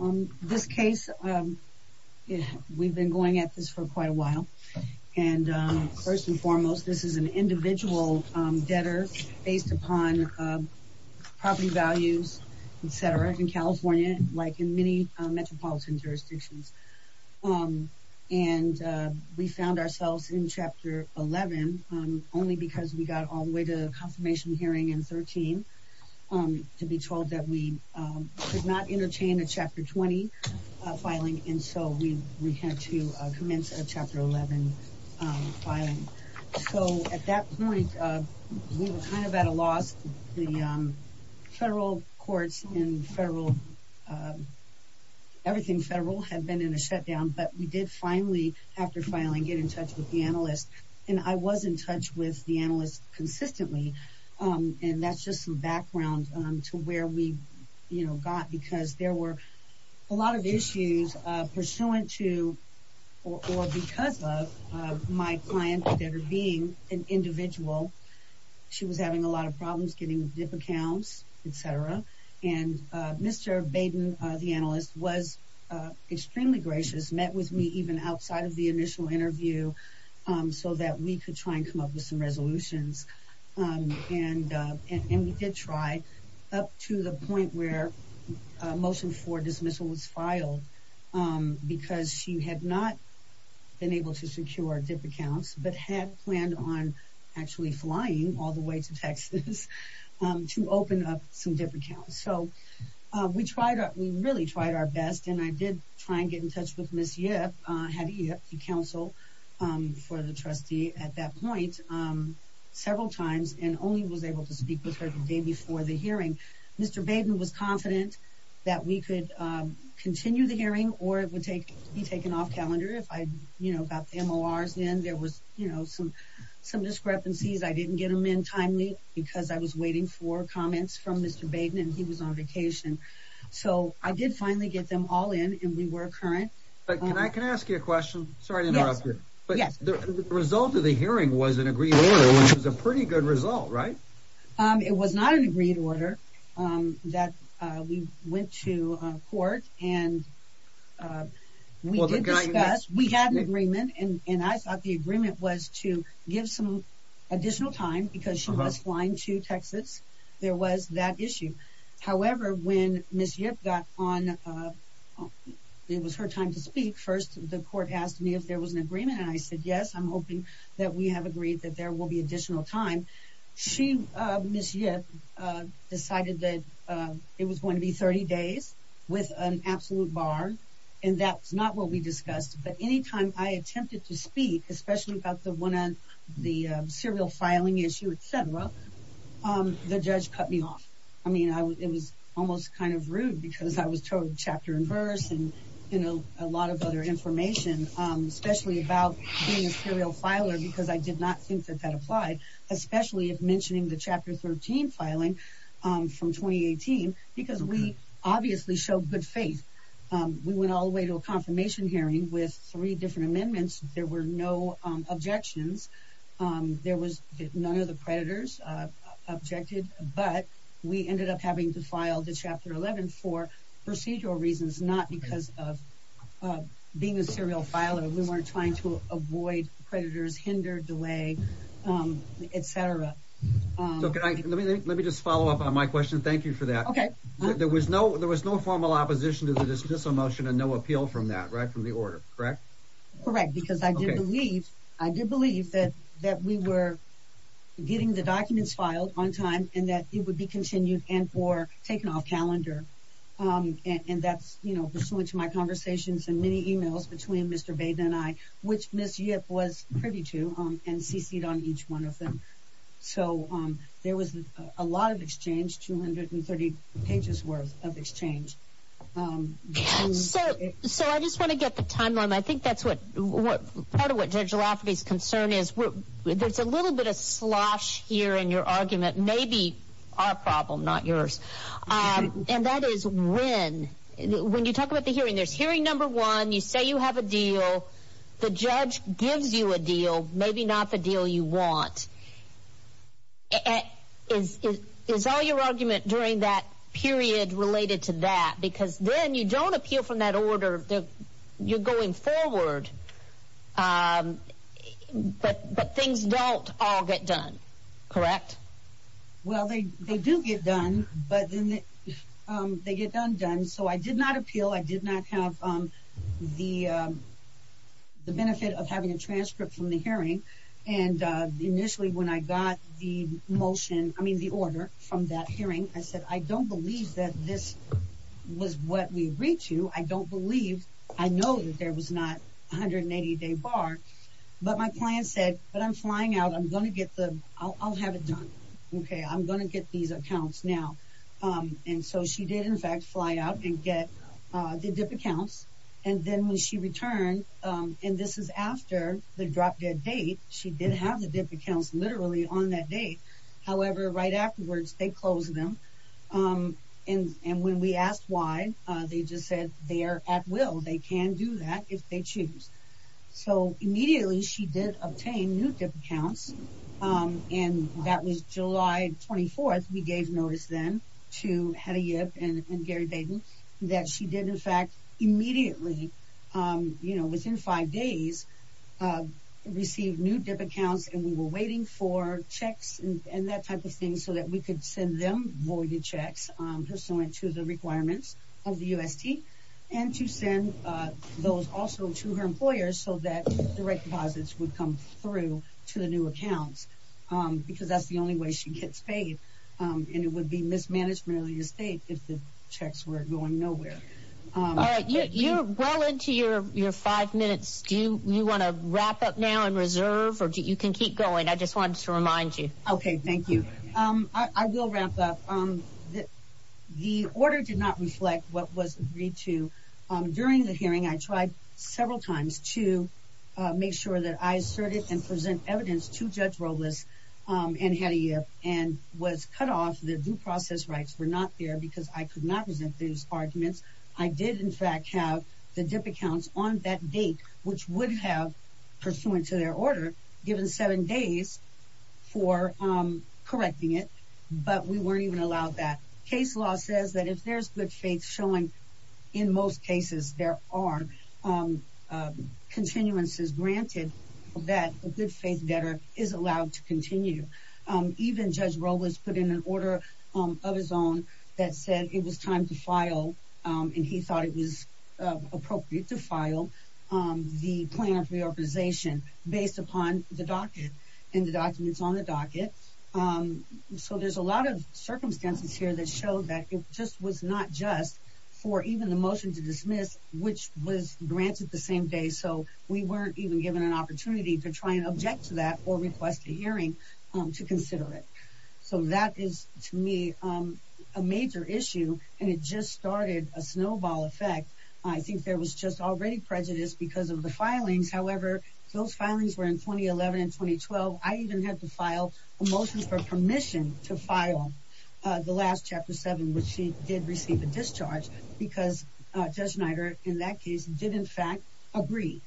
In this case, we've been going at this for quite a while, and first and foremost, this is an individual debtor based upon property values, etc., in California, like in many metropolitan jurisdictions. And we found ourselves in Chapter 11 only because we got all the way to the confirmation hearing in 2013 to be told that we could not entertain a Chapter 20 filing, and so we had to commence a Chapter 11 filing. So at that point, we were kind of at a loss, the federal courts and everything federal had been in a shutdown, but we did finally, after filing, get in touch with the analyst. And I was in touch with the analyst consistently, and that's just some background to where we got, because there were a lot of issues pursuant to, or because of, my client debtor being an individual. She was having a lot of problems getting dip accounts, etc., and Mr. Baden, the analyst, was working with her so that we could try and come up with some resolutions, and we did try, up to the point where a motion for dismissal was filed, because she had not been able to secure dip accounts, but had planned on actually flying all the way to Texas to open up some dip accounts. So we really tried our best, and I did try and get in touch with Ms. Yip, I had Yip counsel for the trustee at that point several times, and only was able to speak with her the day before the hearing. Mr. Baden was confident that we could continue the hearing, or it would be taken off calendar if I got the MORs in. There was some discrepancies, I didn't get them in timely, because I was waiting for comments from Mr. Baden, and he was on vacation. So I did finally get them all in, and we were current. But can I ask you a question, sorry to interrupt you, but the result of the hearing was an agreed order, which was a pretty good result, right? It was not an agreed order, that we went to court, and we did discuss, we had an agreement, and I thought the agreement was to give some additional time, because she was flying to Texas, there was that issue. However, when Ms. Yip got on, it was her time to speak, first the court asked me if there was an agreement, and I said yes, I'm hoping that we have agreed that there will be additional time. She, Ms. Yip, decided that it was going to be 30 days with an absolute bar, and that's not what we discussed, but any time I attempted to speak, especially about the serial filing issue, etc., the judge cut me off. I mean, it was almost kind of rude, because I was told chapter and verse, and you know, a lot of other information, especially about being a serial filer, because I did not think that that applied, especially if mentioning the Chapter 13 filing from 2018, because we obviously showed good faith. We went all the way to a confirmation hearing with three different amendments, there were no objections, there was none of the predators objected, but we ended up having to file the Chapter 11 for procedural reasons, not because of being a serial filer, we weren't trying to avoid predators, hinder, delay, etc. Let me just follow up on my question, thank you for that. Okay. There was no formal opposition to the dismissal motion and no appeal from that, right, from the order, correct? Correct, because I did believe that we were getting the documents filed on time, and that it would be continued and for taking off calendar. And that's, you know, pursuant to my conversations and many emails between Mr. Baden and I, which Ms. Yip was privy to, and CC'd on each one of them. So there was a lot of exchange, 230 pages worth of exchange. So I just want to get the timeline, I think that's what Judge Lafferty's concern is, there's a little bit of slosh here in your argument, maybe our problem, not yours, and that is when, when you talk about the hearing, there's hearing number one, you say you have a deal, the judge gives you a deal, maybe not the deal you want, is all your argument during that period related to that? Because then you don't appeal from that order, you're going forward, but things don't all get done, correct? Well, they do get done, but then they get undone. So I did not appeal, I did not have the benefit of having a transcript from the hearing. And initially, when I got the motion, I mean, the order from that hearing, I said, I don't believe that this was what we agreed to, I don't believe, I know that there was not 180 day bar, but my client said, but I'm flying out, I'm going to get the, I'll have it done. Okay, I'm going to get these accounts now. And so she did, in fact, fly out and get the DIP accounts. And then when she returned, and this is after the drop dead date, she did have the DIP accounts literally on that date. However, right afterwards, they closed them. And when we asked why, they just said they are at will, they can do that if they choose. So immediately, she did obtain new DIP accounts. And that was July 24. We gave notice then to Hediyev and Gary Dayton, that she did, in fact, immediately, you know, and that type of thing so that we could send them voided checks pursuant to the requirements of the UST, and to send those also to her employers so that direct deposits would come through to the new accounts. Because that's the only way she gets paid. And it would be mismanagement of the estate if the checks were going nowhere. All right, you're well into your five minutes. Do you want to wrap up now and reserve or you can keep going? I just wanted to remind you. OK, thank you. I will wrap up. The order did not reflect what was agreed to during the hearing. I tried several times to make sure that I asserted and present evidence to Judge Robles and Hediyev and was cut off. The due process rights were not there because I could not present those arguments. I did, in fact, have the DIP accounts on that date, which would have, pursuant to their order, given seven days for correcting it. But we weren't even allowed that. Case law says that if there's good faith showing in most cases, there are continuances granted that a good faith debtor is allowed to continue. Even Judge Robles put in an order of his own that said it was time to file and he thought it was appropriate to and the documents on the docket. So there's a lot of circumstances here that show that it just was not just for even the motion to dismiss, which was granted the same day. So we weren't even given an opportunity to try and object to that or request a hearing to consider it. So that is to me a major issue. And it just started a snowball effect. I think there was just already prejudice because of the filings. However, those filings were in 2011 and 2012. I even had to file a motion for permission to file the last chapter seven, which she did receive a discharge because Judge Schneider, in that case, did, in fact, agree.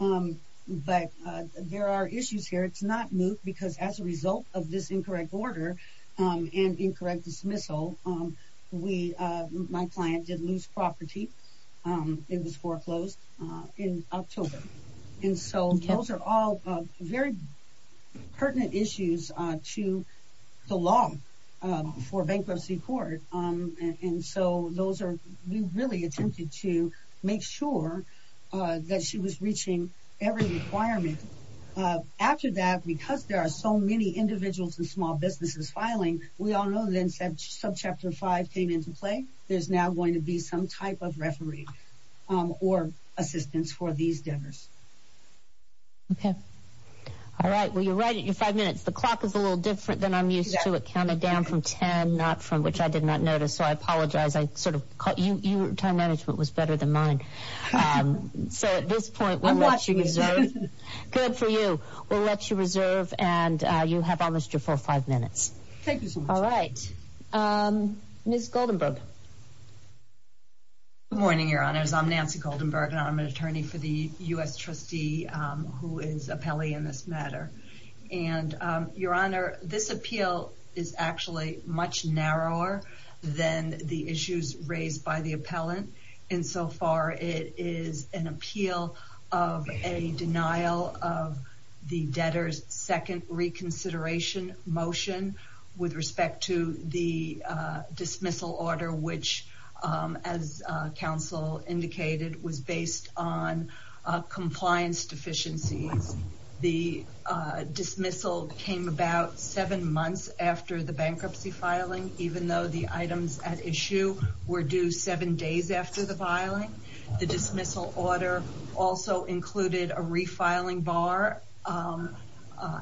But there are issues here. It's not moved because as a result of this incorrect order and incorrect dismissal, my client did lose property. It was foreclosed in October. And so those are all very pertinent issues to the law for bankruptcy court. And so those are we really attempted to make sure that she was reaching every requirement. After that, because there are so many individuals and small businesses filing, we all know then subchapter five came into play. There's now going to be some type of referee or assistance for these debtors. OK. All right. Well, you're right. You're five minutes. The clock is a little different than I'm used to. It counted down from 10, not from which I did not notice. So I apologize. I sort of caught you. Your time management was better than mine. So at this point, we're watching. Good for you. We'll let you reserve. And you have almost your full five minutes. Thank you. All right. Ms. Goldenberg. Good morning, your honors, I'm Nancy Goldenberg, and I'm an attorney for the U.S. trustee who is appellee in this matter. And your honor, this appeal is actually much narrower than the issues raised by the appellant. And so far, it is an appeal of a denial of the debtors second reconsideration motion with respect to the dismissal order, which, as counsel indicated, was based on compliance deficiencies. The dismissal came about seven months after the bankruptcy filing, even though the items at issue were due seven days after the filing. The dismissal order also included a refiling bar,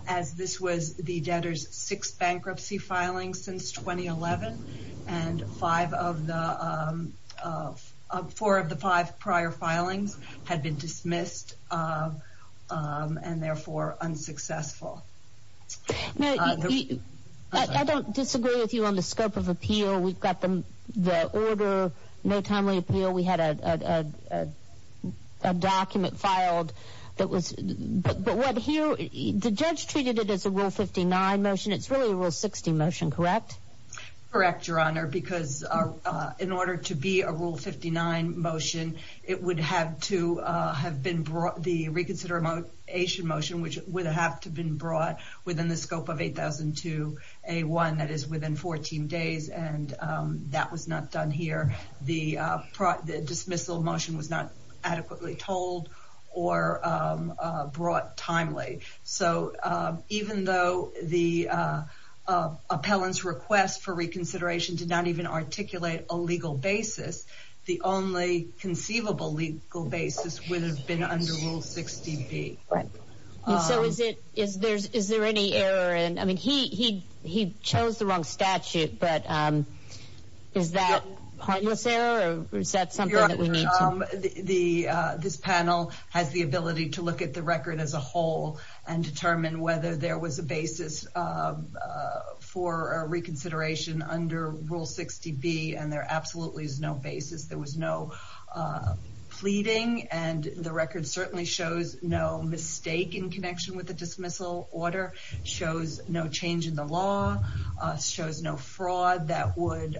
as this was the debtors' sixth bankruptcy filing since 2011. And five of the four of the five prior filings had been dismissed and therefore unsuccessful. Now, I don't disagree with you on the scope of appeal. We've got the order, no timely appeal. We had a document filed that was but what here the judge treated it as a rule 59 motion. It's really a rule 60 motion, correct? Correct, your honor, because in order to be a rule 59 motion, it would have to have been brought the reconsideration motion, which would have to been brought within the scope of 8002A1, that is within 14 days. And that was not done here. The dismissal motion was not adequately told or brought timely. So even though the appellant's request for reconsideration did not even articulate a legal basis, the only conceivable legal basis would have been under Rule 60B. So is it is there is there any error? And I mean, he he he chose the wrong statute. But is that a pointless error or is that something that the this panel has the ability to look at the record as a whole? And determine whether there was a basis for reconsideration under Rule 60B. And there absolutely is no basis. There was no pleading. And the record certainly shows no mistake in connection with the dismissal order, shows no change in the law, shows no fraud that would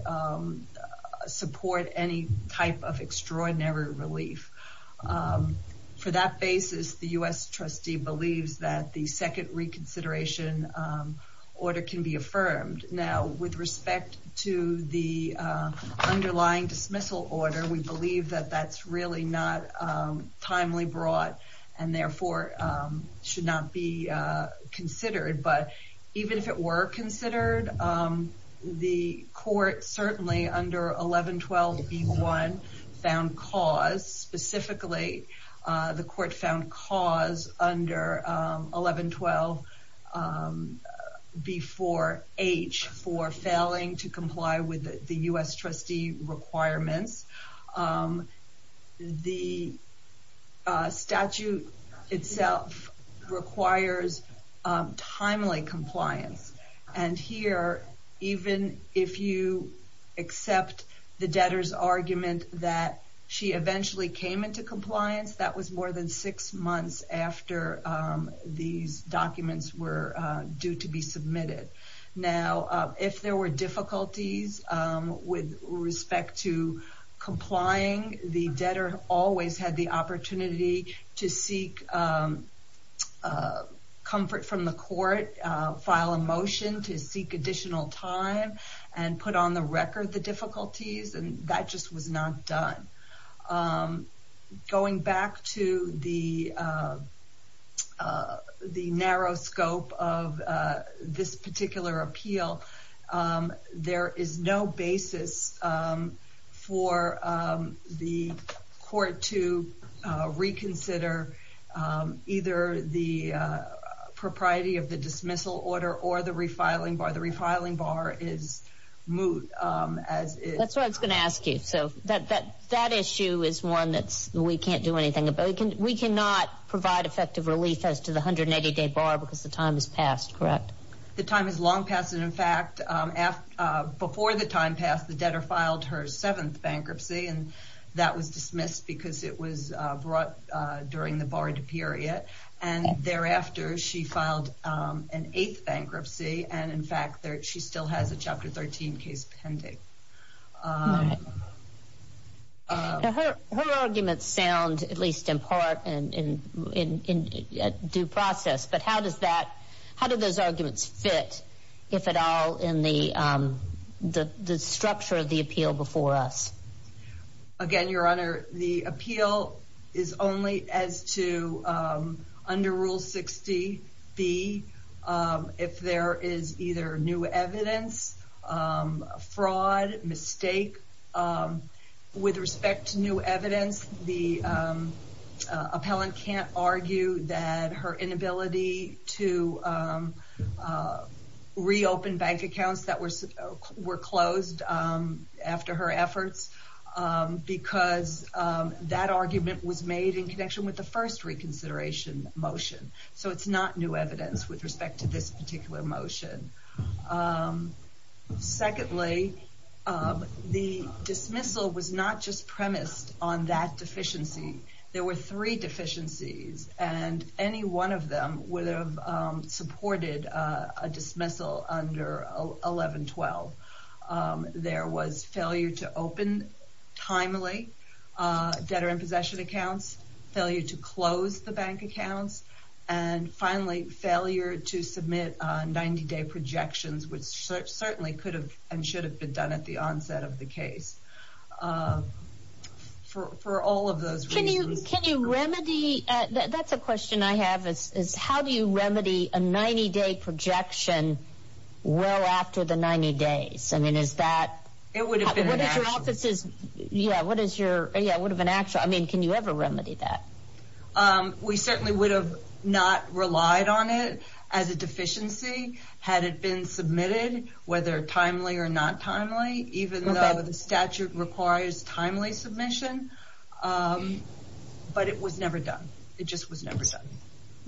support any type of extraordinary relief. For that basis, the U.S. trustee believes that the second reconsideration order can be affirmed. Now, with respect to the underlying dismissal order, we believe that that's really not timely brought and therefore should not be considered. But even if it were considered, the court certainly under 1112B1 found cause, specifically the court found cause under 1112B4H for failing to comply with the U.S. trustee requirements. The statute itself requires timely compliance. And here, even if you accept the debtor's argument that she eventually came into compliance, that was more than six months after these documents were due to be submitted. Now, if there were difficulties with respect to complying, the debtor always had the opportunity to seek comfort from the court, file a motion to seek additional time, and put on the record the difficulties. And that just was not done. Going back to the narrow scope of this particular appeal, there is no basis for the court to reconsider either the propriety of the dismissal order or the refiling bar. The refiling bar is moot. That's what I was going to ask you. So that issue is one that we can't do anything about. We cannot provide effective relief as to the 180-day bar because the time has passed, correct? The time has long passed. And in fact, before the time passed, the debtor filed her seventh bankruptcy, and that was dismissed because it was brought during the borrowed period. And thereafter, she filed an eighth bankruptcy. And in fact, she still has a Chapter 13 case pending. Now, her arguments sound, at least in part, in due process. But how did those arguments fit, if at all, in the structure of the appeal before us? Again, Your Honor, the appeal is only as to, under Rule 60B, if there is either new evidence, fraud, mistake. With respect to new evidence, the appellant can't argue that her inability to reopen bank accounts that were closed after her efforts because that argument was made in connection with the first reconsideration motion. So it's not new evidence with respect to this particular motion. Secondly, the dismissal was not just premised on that deficiency. There were three deficiencies, and any one of them would have supported a dismissal under 1112. There was failure to open, timely, debtor in possession accounts, failure to close the bank accounts, and finally, failure to submit 90-day projections, which certainly could have and should have been done at the onset of the case. For all of those reasons. Can you remedy, that's a question I have, is how do you remedy a 90-day projection well after the 90 days? I mean, is that, what is your office's, yeah, what is your, yeah, what of an actual, I mean, can you ever remedy that? We certainly would have not relied on it as a deficiency had it been submitted, whether timely or not timely, even though the statute requires timely submission. But it was never done. It just was never done.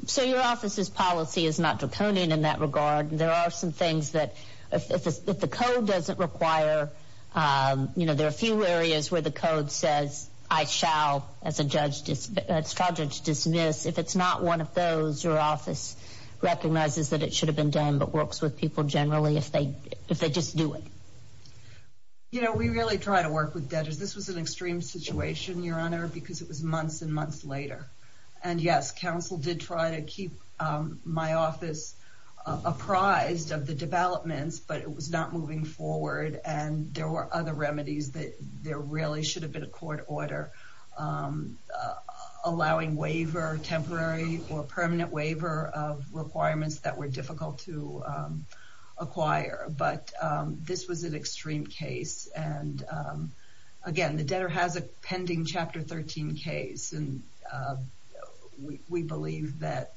So your office's policy is not draconian in that regard. There are some things that, if the code doesn't require, you know, there are a few areas where the code says, I shall, as a judge dismiss, if it's not one of those, your office recognizes that it should have been done, but works with people generally if they just do it. You know, we really try to work with debtors. This was an extreme situation, Your Honor, because it was months and months later. And yes, counsel did try to keep my office apprised of the developments, but it was not moving forward and there were other remedies that there really should have been a court order allowing waiver, temporary or permanent waiver of requirements that were difficult to acquire. But this was an extreme case. And again, the debtor has a pending Chapter 13 case, and we believe that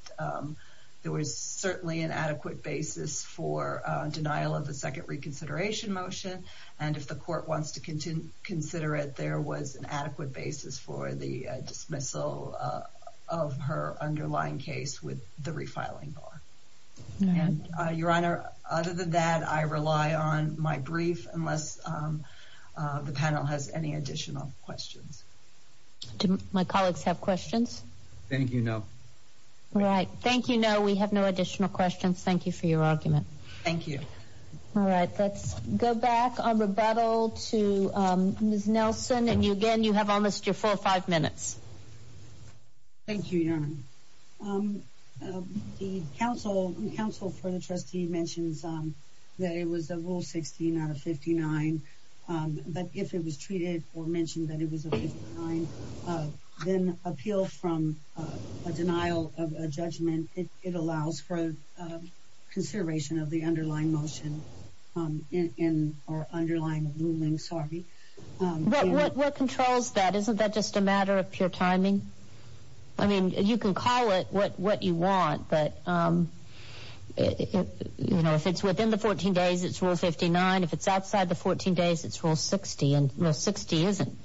there was certainly an adequate basis for denial of the second reconsideration motion. And if the court wants to consider it, there was an adequate basis for the dismissal of her underlying case with the refiling bar. Your Honor, other than that, I rely on my brief unless the panel has any additional questions. Do my colleagues have questions? Thank you. No. All right. Thank you. No, we have no additional questions. Thank you for your argument. Thank you. All right. Let's go back on rebuttal to Ms. Nelson. And again, you have almost your four or five minutes. Thank you, Your Honor. The counsel for the trustee mentions that it was a rule 16 out of 59. But if it was treated or mentioned that it was a 59, then appeal from a denial of a judgment, it allows for consideration of the underlying motion in our underlying ruling. Sorry. What controls that? Isn't that just a matter of pure timing? I mean, you can call it what you want, but, you know, if it's within the 14 days, it's rule 59. If it's outside the 14 days, it's rule 60. And rule 60 isn't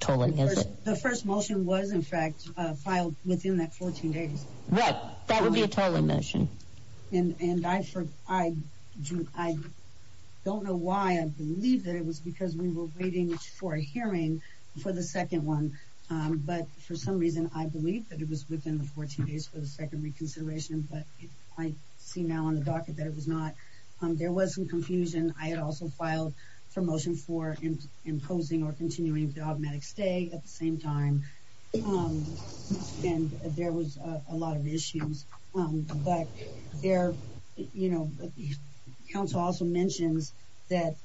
tolling, is it? The first motion was, in fact, filed within that 14 days. Right. That would be a tolling motion. And I don't know why. I believe that it was because we were waiting for a hearing for the second one. But for some reason, I believe that it was within the 14 days for the second reconsideration. But I see now on the docket that it was not. There was some confusion. I had also filed for motion for imposing or continuing dogmatic stay at the same time. And there was a lot of issues. But there, you know, council also mentions that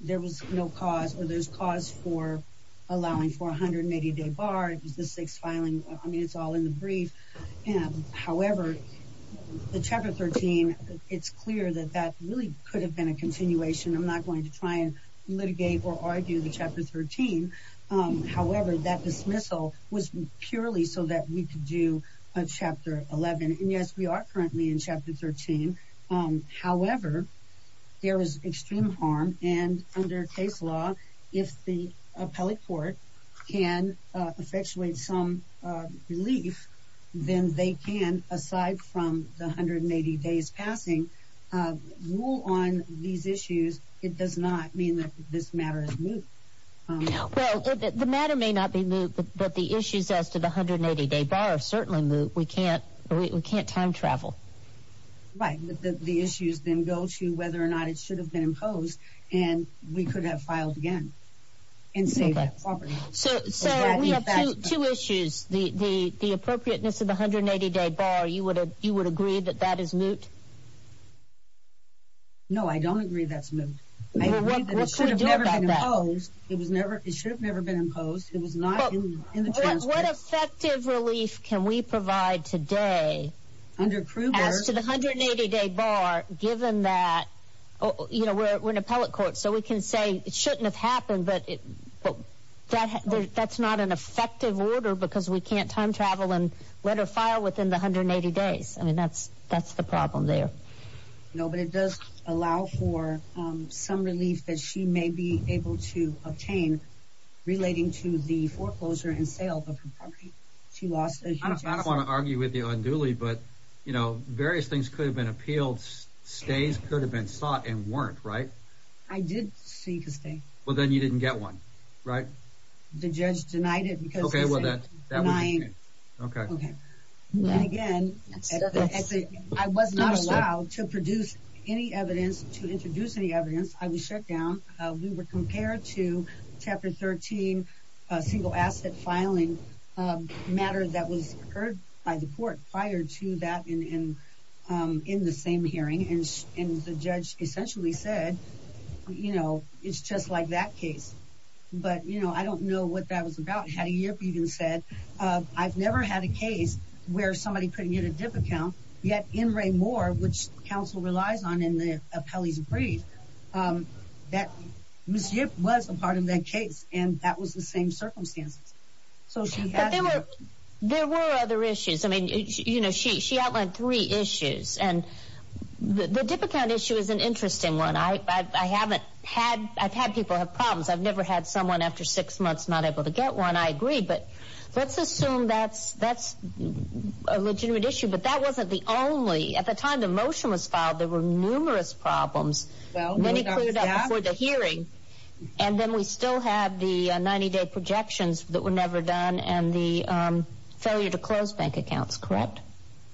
there was no cause or there's cause for allowing for a 180-day bar. It was the sixth filing. I mean, it's all in the brief. However, the Chapter 13, it's clear that that really could have been a continuation. I'm not going to try and litigate or argue the Chapter 13. However, that dismissal was purely so that we could do a Chapter 11. And yes, we are currently in Chapter 13. However, there is extreme harm. And under case law, if the appellate court can effectuate some relief, then they can, aside from the 180 days passing, rule on these issues. It does not mean that this matter is moot. Well, the matter may not be moot, but the issues as to the 180-day bar are certainly moot. We can't time travel. Right. But the issues then go to whether or not it should have been imposed. And we could have filed again and saved that property. So we have two issues. The appropriateness of the 180-day bar, you would agree that that is moot? No, I don't agree that's moot. It should have never been imposed. It was not in the transcript. What effective relief can we provide today as to the 180-day bar, given that we're an appellate court? That's not an effective order because we can't time travel and let her file within the 180 days. I mean, that's the problem there. No, but it does allow for some relief that she may be able to obtain relating to the foreclosure and sale of her property. I don't want to argue with you unduly, but various things could have been appealed. Stays could have been sought and warranted, right? I did seek a stay. Well, then you didn't get one, right? The judge denied it. Okay. Well, that was okay. Okay. And again, I was not allowed to produce any evidence to introduce any evidence. I was shut down. We were compared to Chapter 13, a single asset filing matter that was heard by the court prior to that in the same hearing. And the judge essentially said, you know, it's just like that case. But, you know, I don't know what that was about. Hattie Yip even said, I've never had a case where somebody put me in a dip account, yet in Ray Moore, which counsel relies on in the appellee's brief, that Ms. Yip was a part of that case. And that was the same circumstances. But there were other issues. I mean, you know, she outlined three issues. And the dip account issue is an interesting one. I've had people have problems. I've never had someone after six months not able to get one. I agree. But let's assume that's a legitimate issue. But that wasn't the only. At the time the motion was filed, there were numerous problems. Many still have the 90-day projections that were never done and the failure to close bank accounts, correct?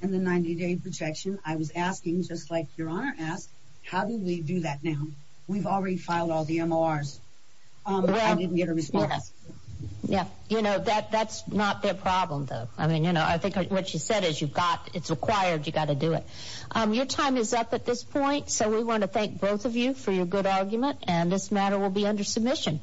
In the 90-day projection, I was asking, just like Your Honor asked, how do we do that now? We've already filed all the MORs. But I didn't get a response. Yeah. You know, that's not their problem, though. I mean, you know, I think what she said is you've got, it's required, you've got to do it. Your time is up at this point. So we want to thank both of you for your argument. And this matter will be under submission.